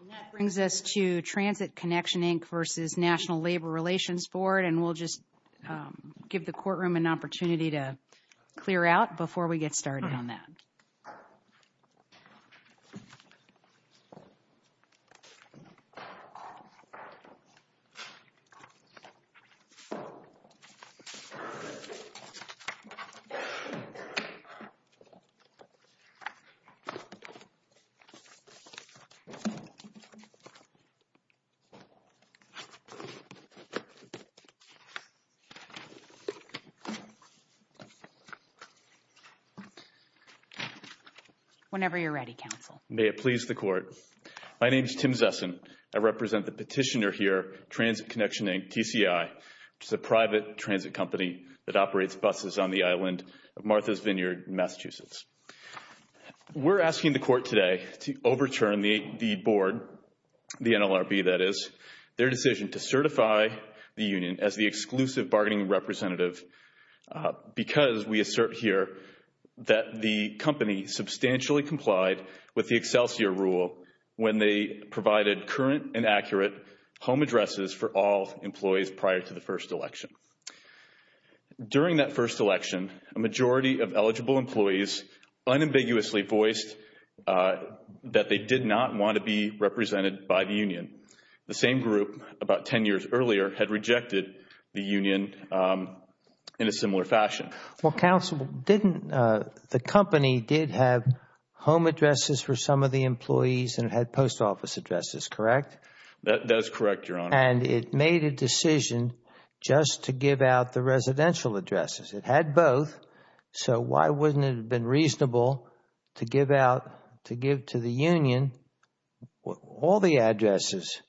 And that brings us to Transit Connection, Inc. v. National Labor Relations Board. And we'll just give the courtroom an opportunity to clear out before we get started on that. Whenever you're ready, Counsel. May it please the Court. My name is Tim Zessen. I represent the petitioner here, Transit Connection, Inc., TCI, which is a private transit company that operates buses on the island of Martha's Vineyard in Massachusetts. We're asking the Court today to overturn the board, the NLRB that is, their decision to certify the union as the exclusive bargaining representative because we assert here that the company substantially complied with the Excelsior rule when they provided current and accurate home addresses for all employees prior to the first election. During that first election, a majority of eligible employees unambiguously voiced that they did not want to be represented by the union. The same group, about 10 years earlier, had rejected the union in a similar fashion. Well, Counsel, didn't the company did have home addresses for some of the employees and had post office addresses, correct? That is correct, Your Honor. And it made a decision just to give out the residential addresses. It had both, so why wouldn't it have been reasonable to give out, to give to the union all the addresses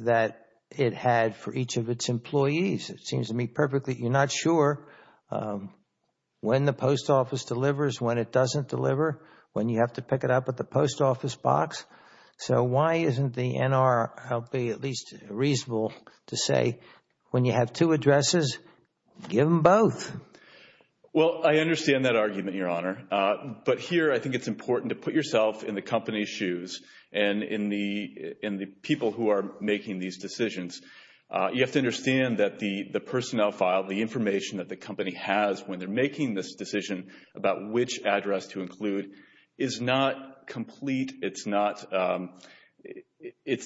that it had for each of its employees? It seems to me perfectly, you're not sure when the post office delivers, when it doesn't deliver, when you have to pick it up at the post office box. So why isn't the NRLB at least reasonable to say when you have two addresses, give them both? Well, I understand that argument, Your Honor. But here I think it's important to put yourself in the company's shoes and in the people who are making these decisions. You have to understand that the personnel file, the information that the company has when they're making this decision about which address to include is not complete. It's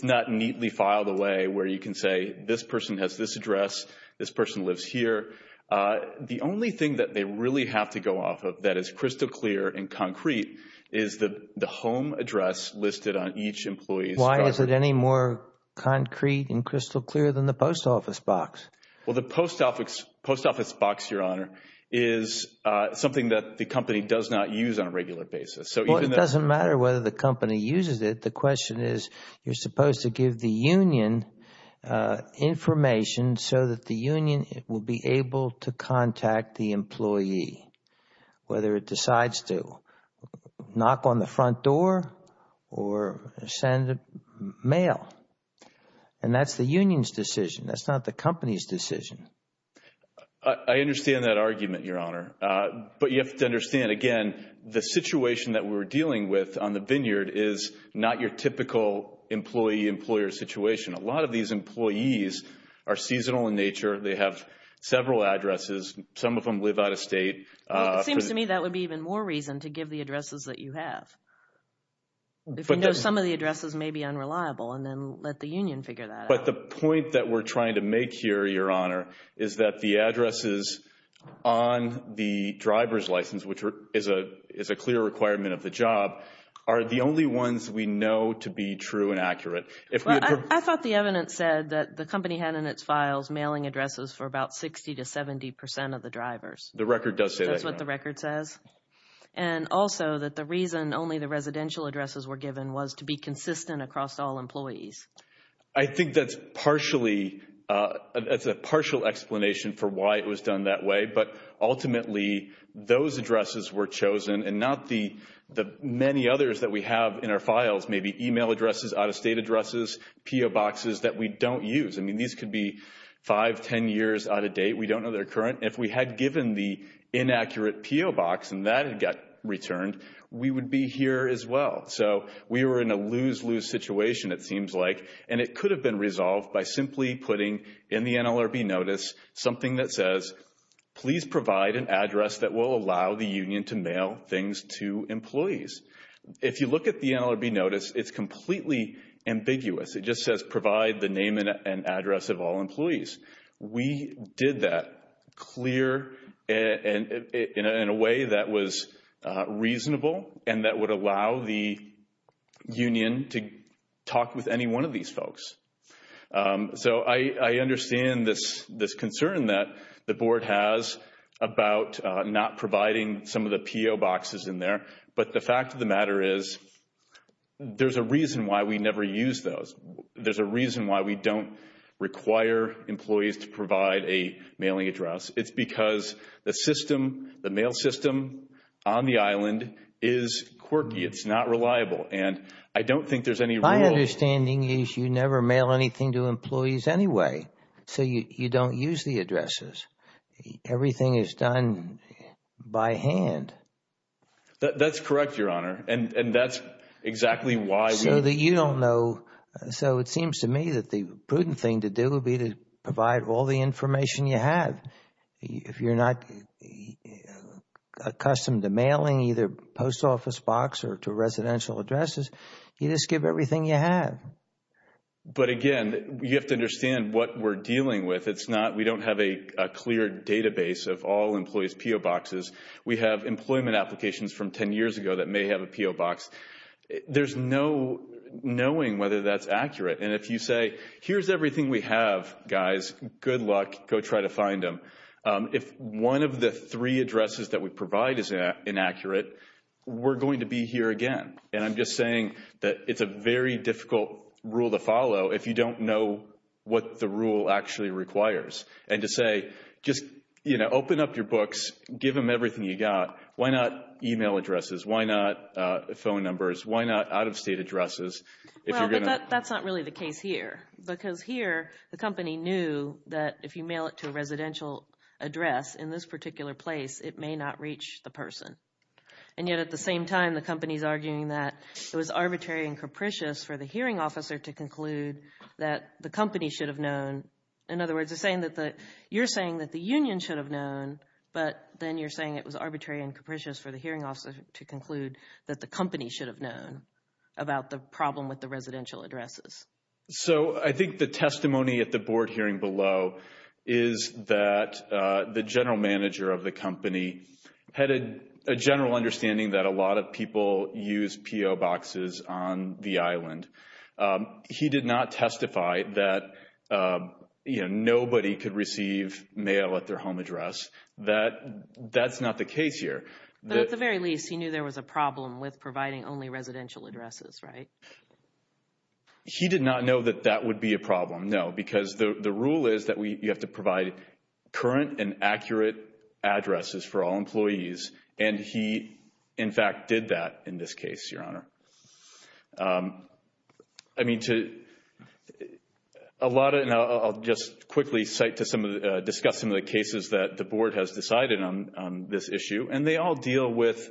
not neatly filed away where you can say this person has this address. This person lives here. The only thing that they really have to go off of that is crystal clear and concrete is the home address listed on each employee's card. Why is it any more concrete and crystal clear than the post office box? Well, the post office box, Your Honor, is something that the company does not use on a regular basis. It doesn't matter whether the company uses it. The question is you're supposed to give the union information so that the union will be able to contact the employee, whether it decides to knock on the front door or send mail. And that's the union's decision. That's not the company's decision. I understand that argument, Your Honor. But you have to understand, again, the situation that we're dealing with on the vineyard is not your typical employee-employer situation. A lot of these employees are seasonal in nature. They have several addresses. Some of them live out of state. It seems to me that would be even more reason to give the addresses that you have. If you know some of the addresses may be unreliable and then let the union figure that out. But the point that we're trying to make here, Your Honor, is that the addresses on the driver's license, which is a clear requirement of the job, are the only ones we know to be true and accurate. I thought the evidence said that the company had in its files mailing addresses for about 60 to 70 percent of the drivers. The record does say that. That's what the record says? And also that the reason only the residential addresses were given was to be consistent across all employees. I think that's a partial explanation for why it was done that way. But ultimately, those addresses were chosen and not the many others that we have in our files, maybe email addresses, out-of-state addresses, P.O. boxes that we don't use. I mean, these could be 5, 10 years out of date. We don't know their current. If we had given the inaccurate P.O. box and that had got returned, we would be here as well. So we were in a lose-lose situation, it seems like. And it could have been resolved by simply putting in the NLRB notice something that says, please provide an address that will allow the union to mail things to employees. If you look at the NLRB notice, it's completely ambiguous. It just says provide the name and address of all employees. We did that clear and in a way that was reasonable and that would allow the union to talk with any one of these folks. So I understand this concern that the board has about not providing some of the P.O. boxes in there. But the fact of the matter is, there's a reason why we never use those. There's a reason why we don't require employees to provide a mailing address. It's because the system, the mail system on the island is quirky. It's not reliable. And I don't think there's any rule. My understanding is you never mail anything to employees anyway. So you don't use the addresses. Everything is done by hand. That's correct, Your Honor. And that's exactly why. So that you don't know. So it seems to me that the prudent thing to do would be to provide all the information you have. If you're not accustomed to mailing either post office box or to residential addresses, you just give everything you have. But again, you have to understand what we're dealing with. It's not we don't have a clear database of all employees' P.O. boxes. We have employment applications from 10 years ago that may have a P.O. box. There's no knowing whether that's accurate. And if you say, here's everything we have, guys. Good luck. Go try to find them. If one of the three addresses that we provide is inaccurate, we're going to be here again. And I'm just saying that it's a very difficult rule to follow if you don't know what the rule actually requires. And to say, just, you know, open up your books. Give them everything you got. Why not e-mail addresses? Why not phone numbers? Why not out-of-state addresses? Well, but that's not really the case here. Because here, the company knew that if you mail it to a residential address in this particular place, it may not reach the person. And yet at the same time, the company's arguing that it was arbitrary and capricious for the hearing officer to conclude that the company should have known. In other words, you're saying that the union should have known, but then you're saying it was arbitrary and capricious for the hearing officer to conclude that the company should have known about the problem with the residential addresses. So I think the testimony at the board hearing below is that the general manager of the company had a general understanding that a lot of people use P.O. boxes on the island. He did not testify that, you know, nobody could receive mail at their home address. That's not the case here. But at the very least, he knew there was a problem with providing only residential addresses, right? He did not know that that would be a problem, no. Because the rule is that you have to provide current and accurate addresses for all employees. And he, in fact, did that in this case, Your Honor. I mean, a lot of, and I'll just quickly cite to some of the, discuss some of the cases that the board has decided on this issue. And they all deal with,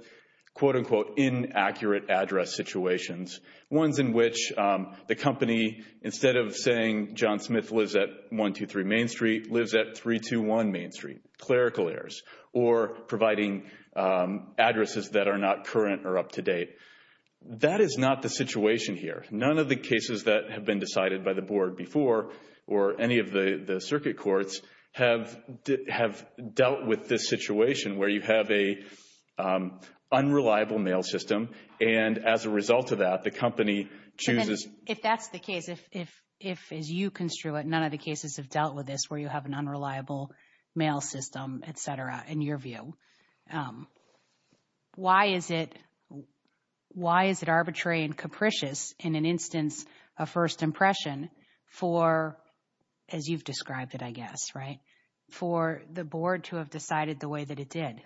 quote-unquote, inaccurate address situations. Ones in which the company, instead of saying John Smith lives at 123 Main Street, lives at 321 Main Street, clerical errors. Or providing addresses that are not current or up-to-date. That is not the situation here. None of the cases that have been decided by the board before, or any of the circuit courts, have dealt with this situation where you have an unreliable mail system. And as a result of that, the company chooses. If that's the case, if, as you construe it, none of the cases have dealt with this where you have an unreliable mail system, et cetera, in your view. Why is it arbitrary and capricious in an instance of first impression for, as you've described it, I guess, right? For the board to have decided the way that it did.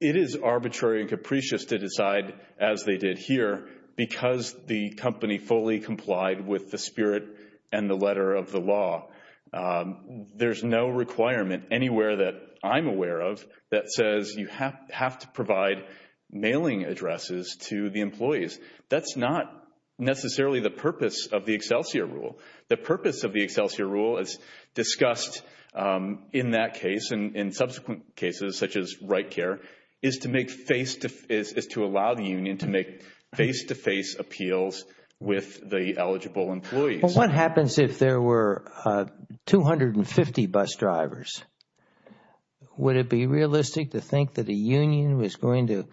It is arbitrary and capricious to decide as they did here because the company fully complied with the spirit and the letter of the law. There's no requirement anywhere that I'm aware of that says you have to provide mailing addresses to the employees. That's not necessarily the purpose of the Excelsior Rule. The purpose of the Excelsior Rule, as discussed in that case and in subsequent cases, such as RightCare, is to allow the union to make face-to-face appeals with the eligible employees. Well, what happens if there were 250 bus drivers? Would it be realistic to think that a union was going to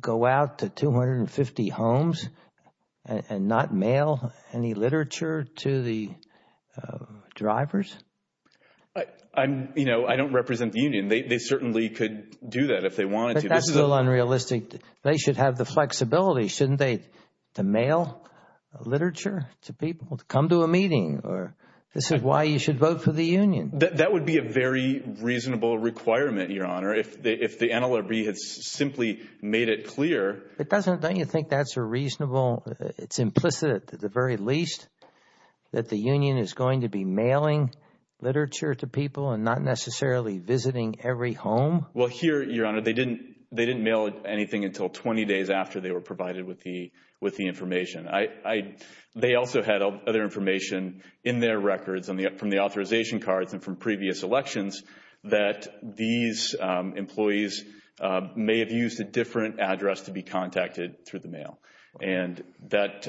go out to 250 homes and not mail any literature to the drivers? I don't represent the union. They certainly could do that if they wanted to. But that's a little unrealistic. They should have the flexibility, shouldn't they, to mail literature to people, to come to a meeting? This is why you should vote for the union. That would be a very reasonable requirement, Your Honor, if the NLRB had simply made it clear. Don't you think that's a reasonable – it's implicit at the very least that the union is going to be mailing literature to people and not necessarily visiting every home? Well, here, Your Honor, they didn't mail anything until 20 days after they were provided with the information. They also had other information in their records from the authorization cards and from previous elections that these employees may have used a different address to be contacted through the mail. And that,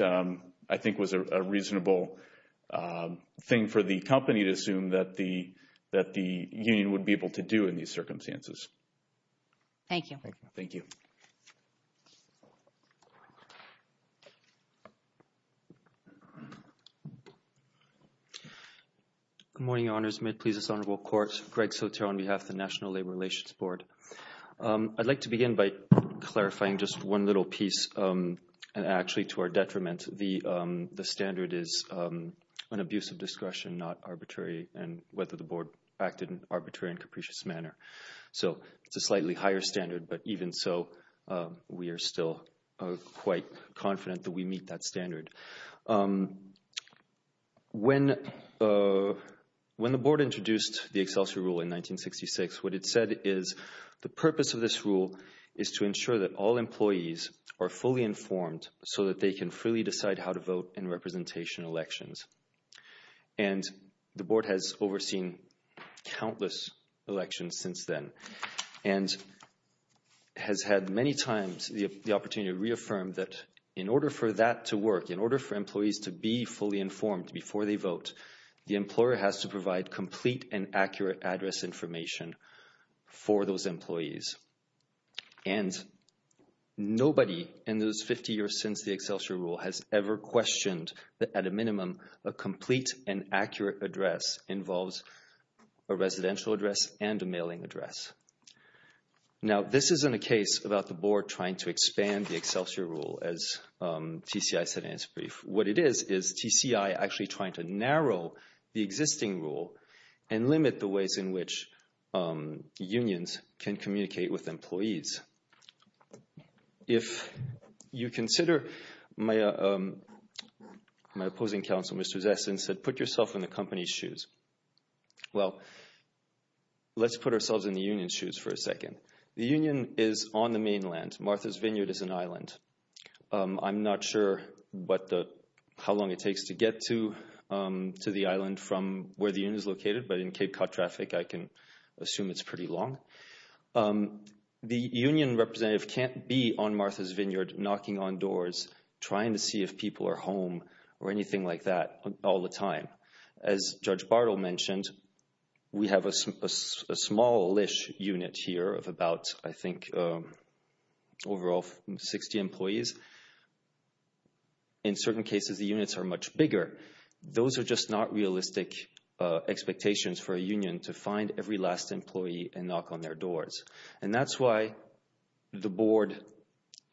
I think, was a reasonable thing for the company to assume that the union would be able to do in these circumstances. Thank you. Thank you. Good morning, Your Honors. May it please this honorable court, Greg Sotero on behalf of the National Labor Relations Board. I'd like to begin by clarifying just one little piece. And actually, to our detriment, the standard is an abuse of discretion, not arbitrary, and whether the board acted in an arbitrary and capricious manner. So it's a slightly higher standard, but even so, we are still quite confident that we meet that standard. When the board introduced the Excelsior Rule in 1966, what it said is the purpose of this rule is to ensure that all employees are fully informed so that they can freely decide how to vote in representation elections. And the board has overseen countless elections since then and has had many times the opportunity to reaffirm that in order for that to work, in order for employees to be fully informed before they vote, the employer has to provide complete and accurate address information for those employees. And nobody in those 50 years since the Excelsior Rule has ever questioned that at a minimum, a complete and accurate address involves a residential address and a mailing address. Now, this isn't a case about the board trying to expand the Excelsior Rule, as TCI said in its brief. What it is is TCI actually trying to narrow the existing rule and limit the ways in which unions can communicate with employees. If you consider my opposing counsel, Mr. Zessen, said put yourself in the company's shoes. Well, let's put ourselves in the union's shoes for a second. The union is on the mainland. Martha's Vineyard is an island. I'm not sure how long it takes to get to the island from where the union is located, but in Cape Cod traffic, I can assume it's pretty long. The union representative can't be on Martha's Vineyard knocking on doors trying to see if people are home or anything like that all the time. As Judge Bartle mentioned, we have a small-ish unit here of about, I think, overall 60 employees. In certain cases, the units are much bigger. Those are just not realistic expectations for a union to find every last employee and knock on their doors. And that's why the board,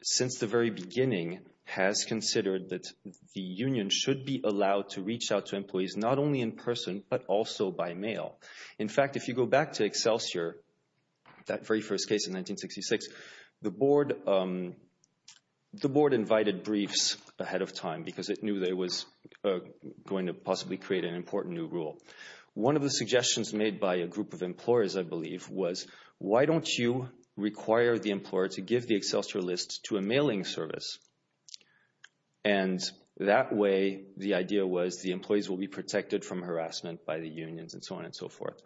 since the very beginning, has considered that the union should be allowed to reach out to employees not only in person but also by mail. In fact, if you go back to Excelsior, that very first case in 1966, the board invited briefs ahead of time because it knew that it was going to possibly create an important new rule. One of the suggestions made by a group of employers, I believe, was, why don't you require the employer to give the Excelsior list to a mailing service? And that way, the idea was the employees will be protected from harassment by the unions and so on and so forth.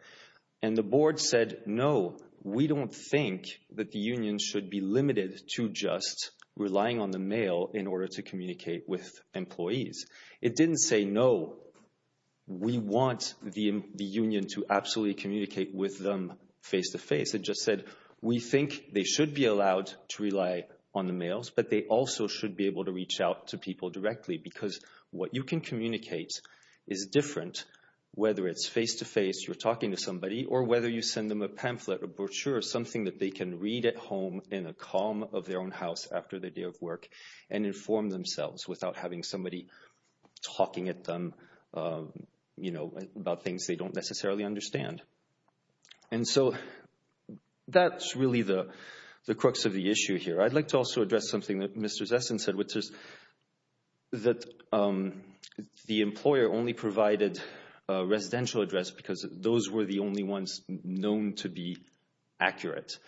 And the board said, no, we don't think that the union should be limited to just relying on the mail in order to communicate with employees. It didn't say, no, we want the union to absolutely communicate with them face-to-face. It just said, we think they should be allowed to rely on the mails, but they also should be able to reach out to people directly because what you can communicate is different, whether it's face-to-face, you're talking to somebody, or whether you send them a pamphlet or brochure, something that they can read at home in the calm of their own house after the day of work and inform themselves without having somebody talking at them about things they don't necessarily understand. And so that's really the crux of the issue here. I'd like to also address something that Mr. Zessen said, which is that the employer only provided a residential address because those were the only ones known to be accurate.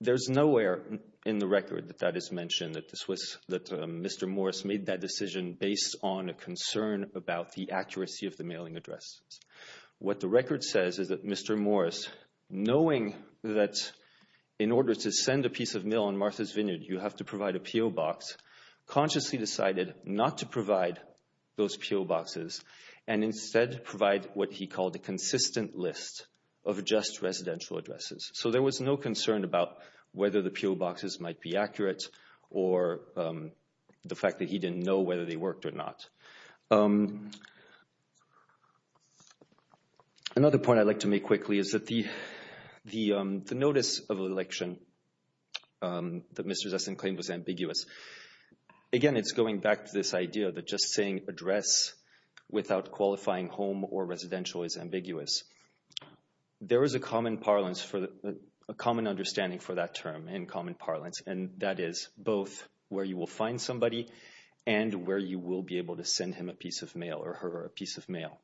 There's nowhere in the record that that is mentioned, that Mr. Morris made that decision based on a concern about the accuracy of the mailing address. What the record says is that Mr. Morris, knowing that in order to send a piece of mail on Martha's Vineyard you have to provide a PO box, consciously decided not to provide those PO boxes and instead provide what he called a consistent list of just residential addresses. So there was no concern about whether the PO boxes might be accurate or the fact that he didn't know whether they worked or not. Another point I'd like to make quickly is that the notice of election that Mr. Zessen claimed was ambiguous. Again, it's going back to this idea that just saying address without qualifying home or residential is ambiguous. There is a common understanding for that term in common parlance, and that is both where you will find somebody and where you will be able to send him a piece of mail or her a piece of mail.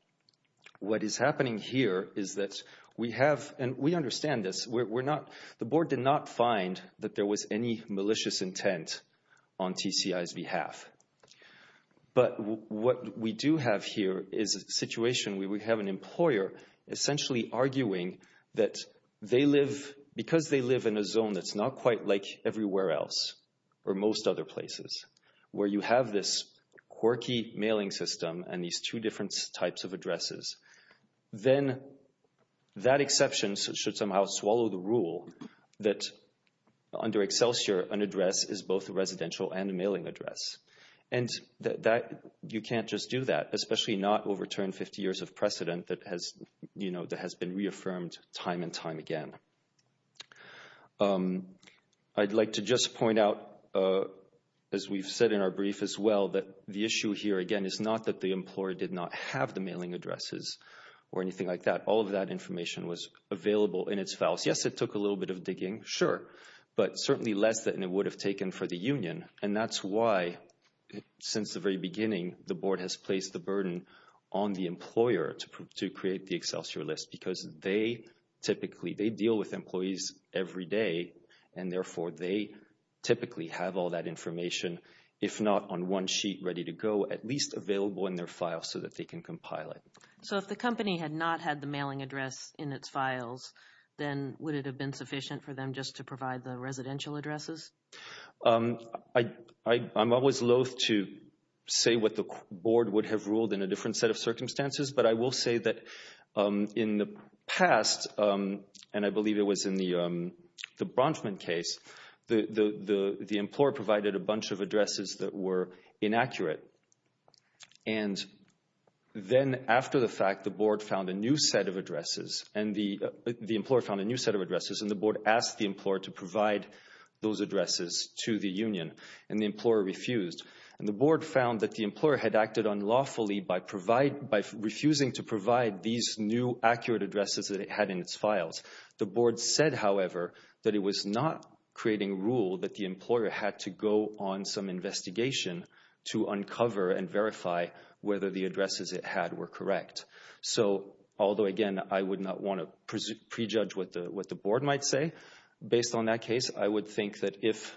What is happening here is that we have, and we understand this, the board did not find that there was any malicious intent on TCI's behalf. But what we do have here is a situation where we have an employer essentially arguing that because they live in a zone that's not quite like everywhere else, or most other places, where you have this quirky mailing system and these two different types of addresses, then that exception should somehow swallow the rule that under Excelsior an address is both a residential and a mailing address. And you can't just do that, especially not overturn 50 years of precedent that has been reaffirmed time and time again. I'd like to just point out, as we've said in our brief as well, that the issue here, again, is not that the employer did not have the mailing addresses or anything like that. All of that information was available in its files. Yes, it took a little bit of digging, sure, but certainly less than it would have taken for the union. And that's why, since the very beginning, the board has placed the burden on the employer to create the Excelsior list because they typically, they deal with employees every day, and therefore they typically have all that information, if not on one sheet, ready to go, at least available in their file so that they can compile it. So if the company had not had the mailing address in its files, then would it have been sufficient for them just to provide the residential addresses? I'm always loathe to say what the board would have ruled in a different set of circumstances, but I will say that in the past, and I believe it was in the Bronfman case, the employer provided a bunch of addresses that were inaccurate. And then after the fact, the board found a new set of addresses, and the employer found a new set of addresses, and the board asked the employer to provide those addresses to the union, and the employer refused. And the board found that the employer had acted unlawfully by refusing to provide these new accurate addresses that it had in its files. The board said, however, that it was not creating rule that the employer had to go on some investigation to uncover and verify whether the addresses it had were correct. So although, again, I would not want to prejudge what the board might say based on that case, I would think that if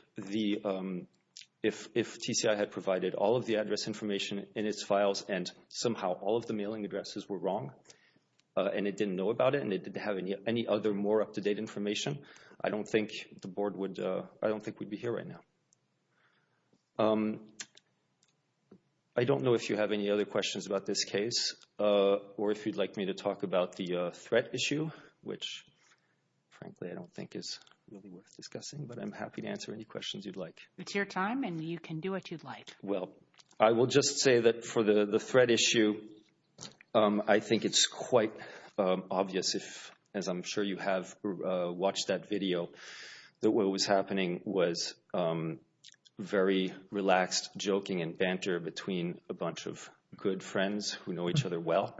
TCI had provided all of the address information in its files and somehow all of the mailing addresses were wrong, and it didn't know about it, and it didn't have any other more up-to-date information, I don't think the board would be here right now. I don't know if you have any other questions about this case, or if you'd like me to talk about the threat issue, which frankly I don't think is really worth discussing, but I'm happy to answer any questions you'd like. It's your time, and you can do what you'd like. Well, I will just say that for the threat issue, I think it's quite obvious, as I'm sure you have watched that video, that what was happening was very relaxed joking and banter between a bunch of good friends who know each other well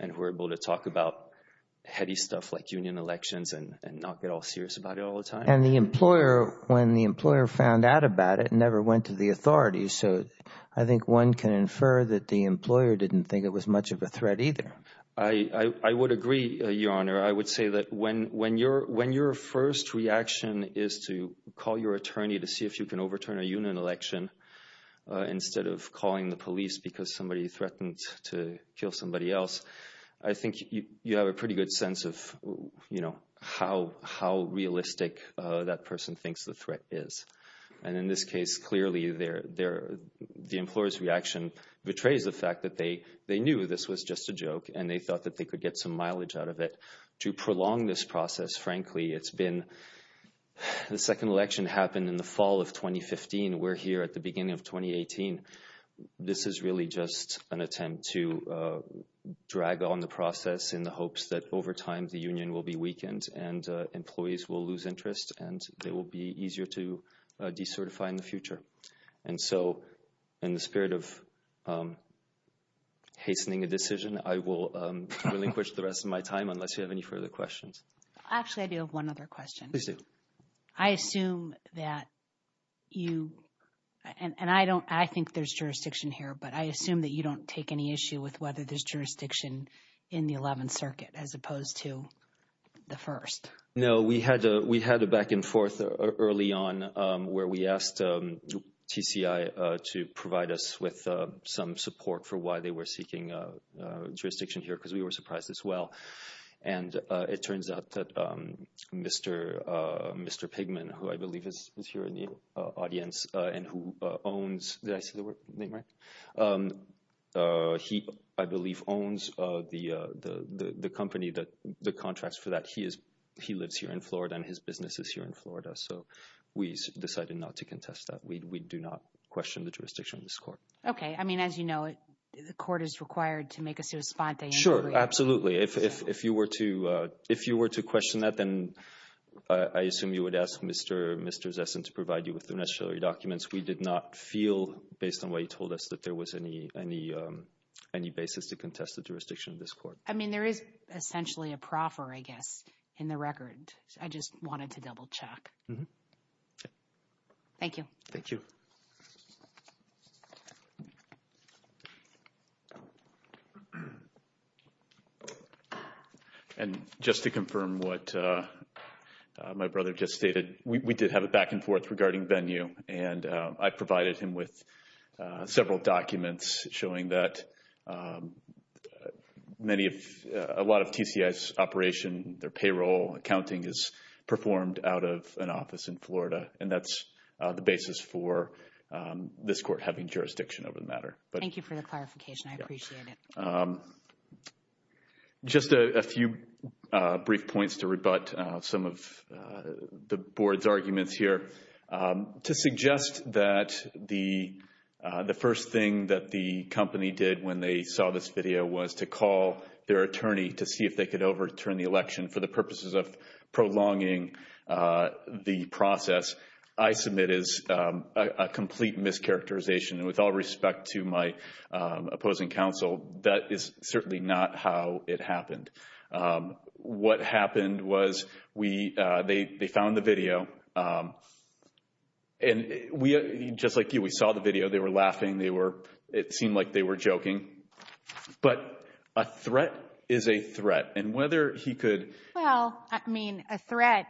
and were able to talk about heady stuff like union elections and not get all serious about it all the time. And the employer, when the employer found out about it, never went to the authorities, so I think one can infer that the employer didn't think it was much of a threat either. I would agree, Your Honor. I would say that when your first reaction is to call your attorney to see if you can overturn a union election instead of calling the police because somebody threatened to kill somebody else, I think you have a pretty good sense of how realistic that person thinks the threat is. And in this case, clearly the employer's reaction betrays the fact that they knew this was just a joke and they thought that they could get some mileage out of it. To prolong this process, frankly, it's been – the second election happened in the fall of 2015. We're here at the beginning of 2018. This is really just an attempt to drag on the process in the hopes that over time the union will be weakened and employees will lose interest and it will be easier to decertify in the future. And so, in the spirit of hastening a decision, I will relinquish the rest of my time unless you have any further questions. Actually, I do have one other question. Please do. I assume that you – and I don't – I think there's jurisdiction here, but I assume that you don't take any issue with whether there's jurisdiction in the Eleventh Circuit as opposed to the First. No, we had a back and forth early on where we asked TCI to provide us with some support for why they were seeking jurisdiction here because we were surprised as well. And it turns out that Mr. Pigman, who I believe is here in the audience and who owns – did I say the name right? He, I believe, owns the company, the contracts for that. He lives here in Florida and his business is here in Florida. So, we decided not to contest that. We do not question the jurisdiction of this court. Okay. I mean, as you know, the court is required to make a sua sponte. Sure, absolutely. If you were to question that, then I assume you would ask Mr. Zessen to provide you with the necessary documents. We did not feel, based on what you told us, that there was any basis to contest the jurisdiction of this court. I mean, there is essentially a proffer, I guess, in the record. I just wanted to double-check. Thank you. Thank you. And just to confirm what my brother just stated, we did have a back-and-forth regarding venue, and I provided him with several documents showing that many of – a lot of TCI's operation, their payroll, accounting, is performed out of an office in Florida, and that's the basis for this court having jurisdiction over the matter. Thank you for the clarification. I appreciate it. Just a few brief points to rebut some of the board's arguments here. To suggest that the first thing that the company did when they saw this video was to call their attorney to see if they could overturn the election for the purposes of prolonging the process, I submit is a complete mischaracterization. With all respect to my opposing counsel, that is certainly not how it happened. What happened was they found the video, and just like you, we saw the video. They were laughing. It seemed like they were joking. But a threat is a threat, and whether he could – Well, I mean, a threat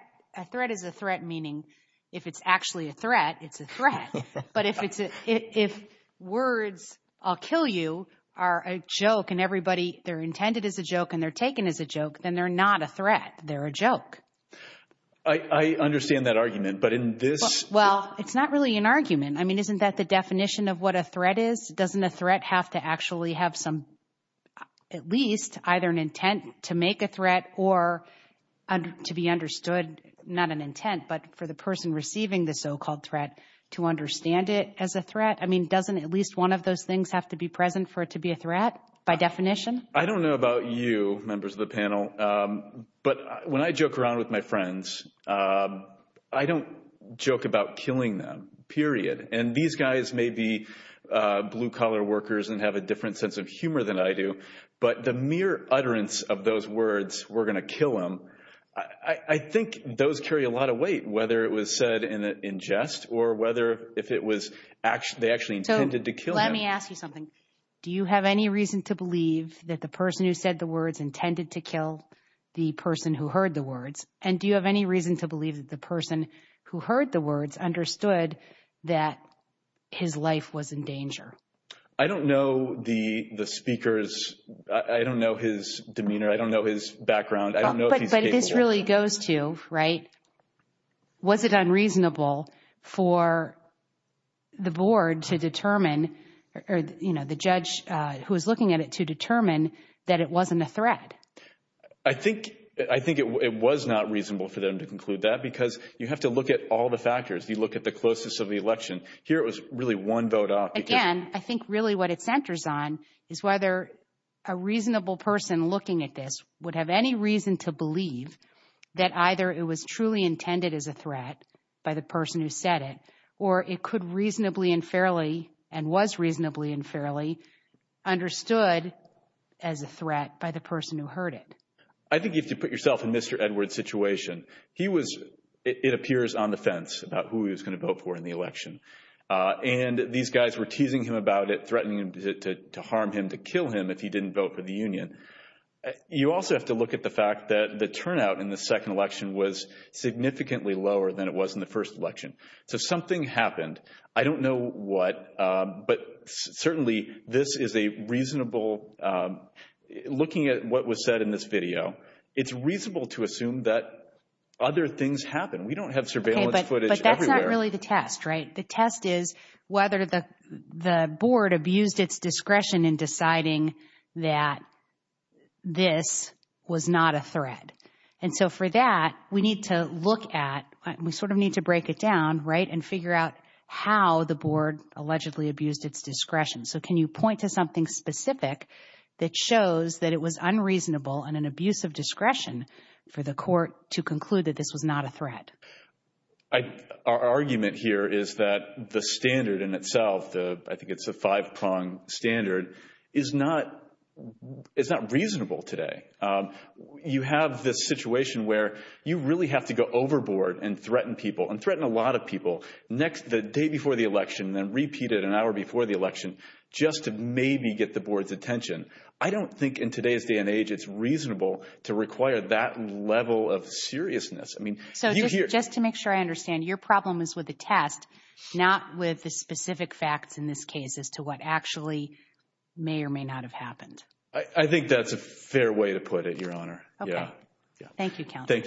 is a threat, meaning if it's actually a threat, it's a threat. But if words, I'll kill you, are a joke and everybody – they're intended as a joke and they're taken as a joke, then they're not a threat. They're a joke. I understand that argument, but in this – Well, it's not really an argument. I mean, isn't that the definition of what a threat is? Doesn't a threat have to actually have some – at least either an intent to make a threat or to be understood – understand it as a threat? I mean, doesn't at least one of those things have to be present for it to be a threat by definition? I don't know about you, members of the panel, but when I joke around with my friends, I don't joke about killing them, period. And these guys may be blue-collar workers and have a different sense of humor than I do, but the mere utterance of those words, we're going to kill them, I think those carry a lot of weight, whether it was said in jest or whether if it was – they actually intended to kill him. So let me ask you something. Do you have any reason to believe that the person who said the words intended to kill the person who heard the words? And do you have any reason to believe that the person who heard the words understood that his life was in danger? I don't know the speaker's – I don't know his demeanor. I don't know his background. I don't know if he's capable. It really goes to, right, was it unreasonable for the board to determine – or, you know, the judge who was looking at it to determine that it wasn't a threat? I think it was not reasonable for them to conclude that because you have to look at all the factors. You look at the closeness of the election. Here it was really one vote off. Again, I think really what it centers on is whether a reasonable person looking at this would have any reason to believe that either it was truly intended as a threat by the person who said it or it could reasonably and fairly and was reasonably and fairly understood as a threat by the person who heard it. I think if you put yourself in Mr. Edwards' situation, he was – it appears on the fence about who he was going to vote for in the election. And these guys were teasing him about it, threatening him to harm him, to kill him if he didn't vote for the union. You also have to look at the fact that the turnout in the second election was significantly lower than it was in the first election. So something happened. I don't know what, but certainly this is a reasonable – looking at what was said in this video, it's reasonable to assume that other things happened. We don't have surveillance footage everywhere. Okay, but that's not really the test, right? The test is whether the board abused its discretion in deciding that this was not a threat. And so for that, we need to look at – we sort of need to break it down, right, and figure out how the board allegedly abused its discretion. So can you point to something specific that shows that it was unreasonable and an abuse of discretion for the court to conclude that this was not a threat? Our argument here is that the standard in itself, I think it's a five-prong standard, is not reasonable today. You have this situation where you really have to go overboard and threaten people, and threaten a lot of people, the day before the election, then repeat it an hour before the election, just to maybe get the board's attention. I don't think in today's day and age it's reasonable to require that level of seriousness. So just to make sure I understand, your problem is with the test, not with the specific facts in this case, as to what actually may or may not have happened. I think that's a fair way to put it, Your Honor. Okay. Thank you, counsel. Thank you for your time.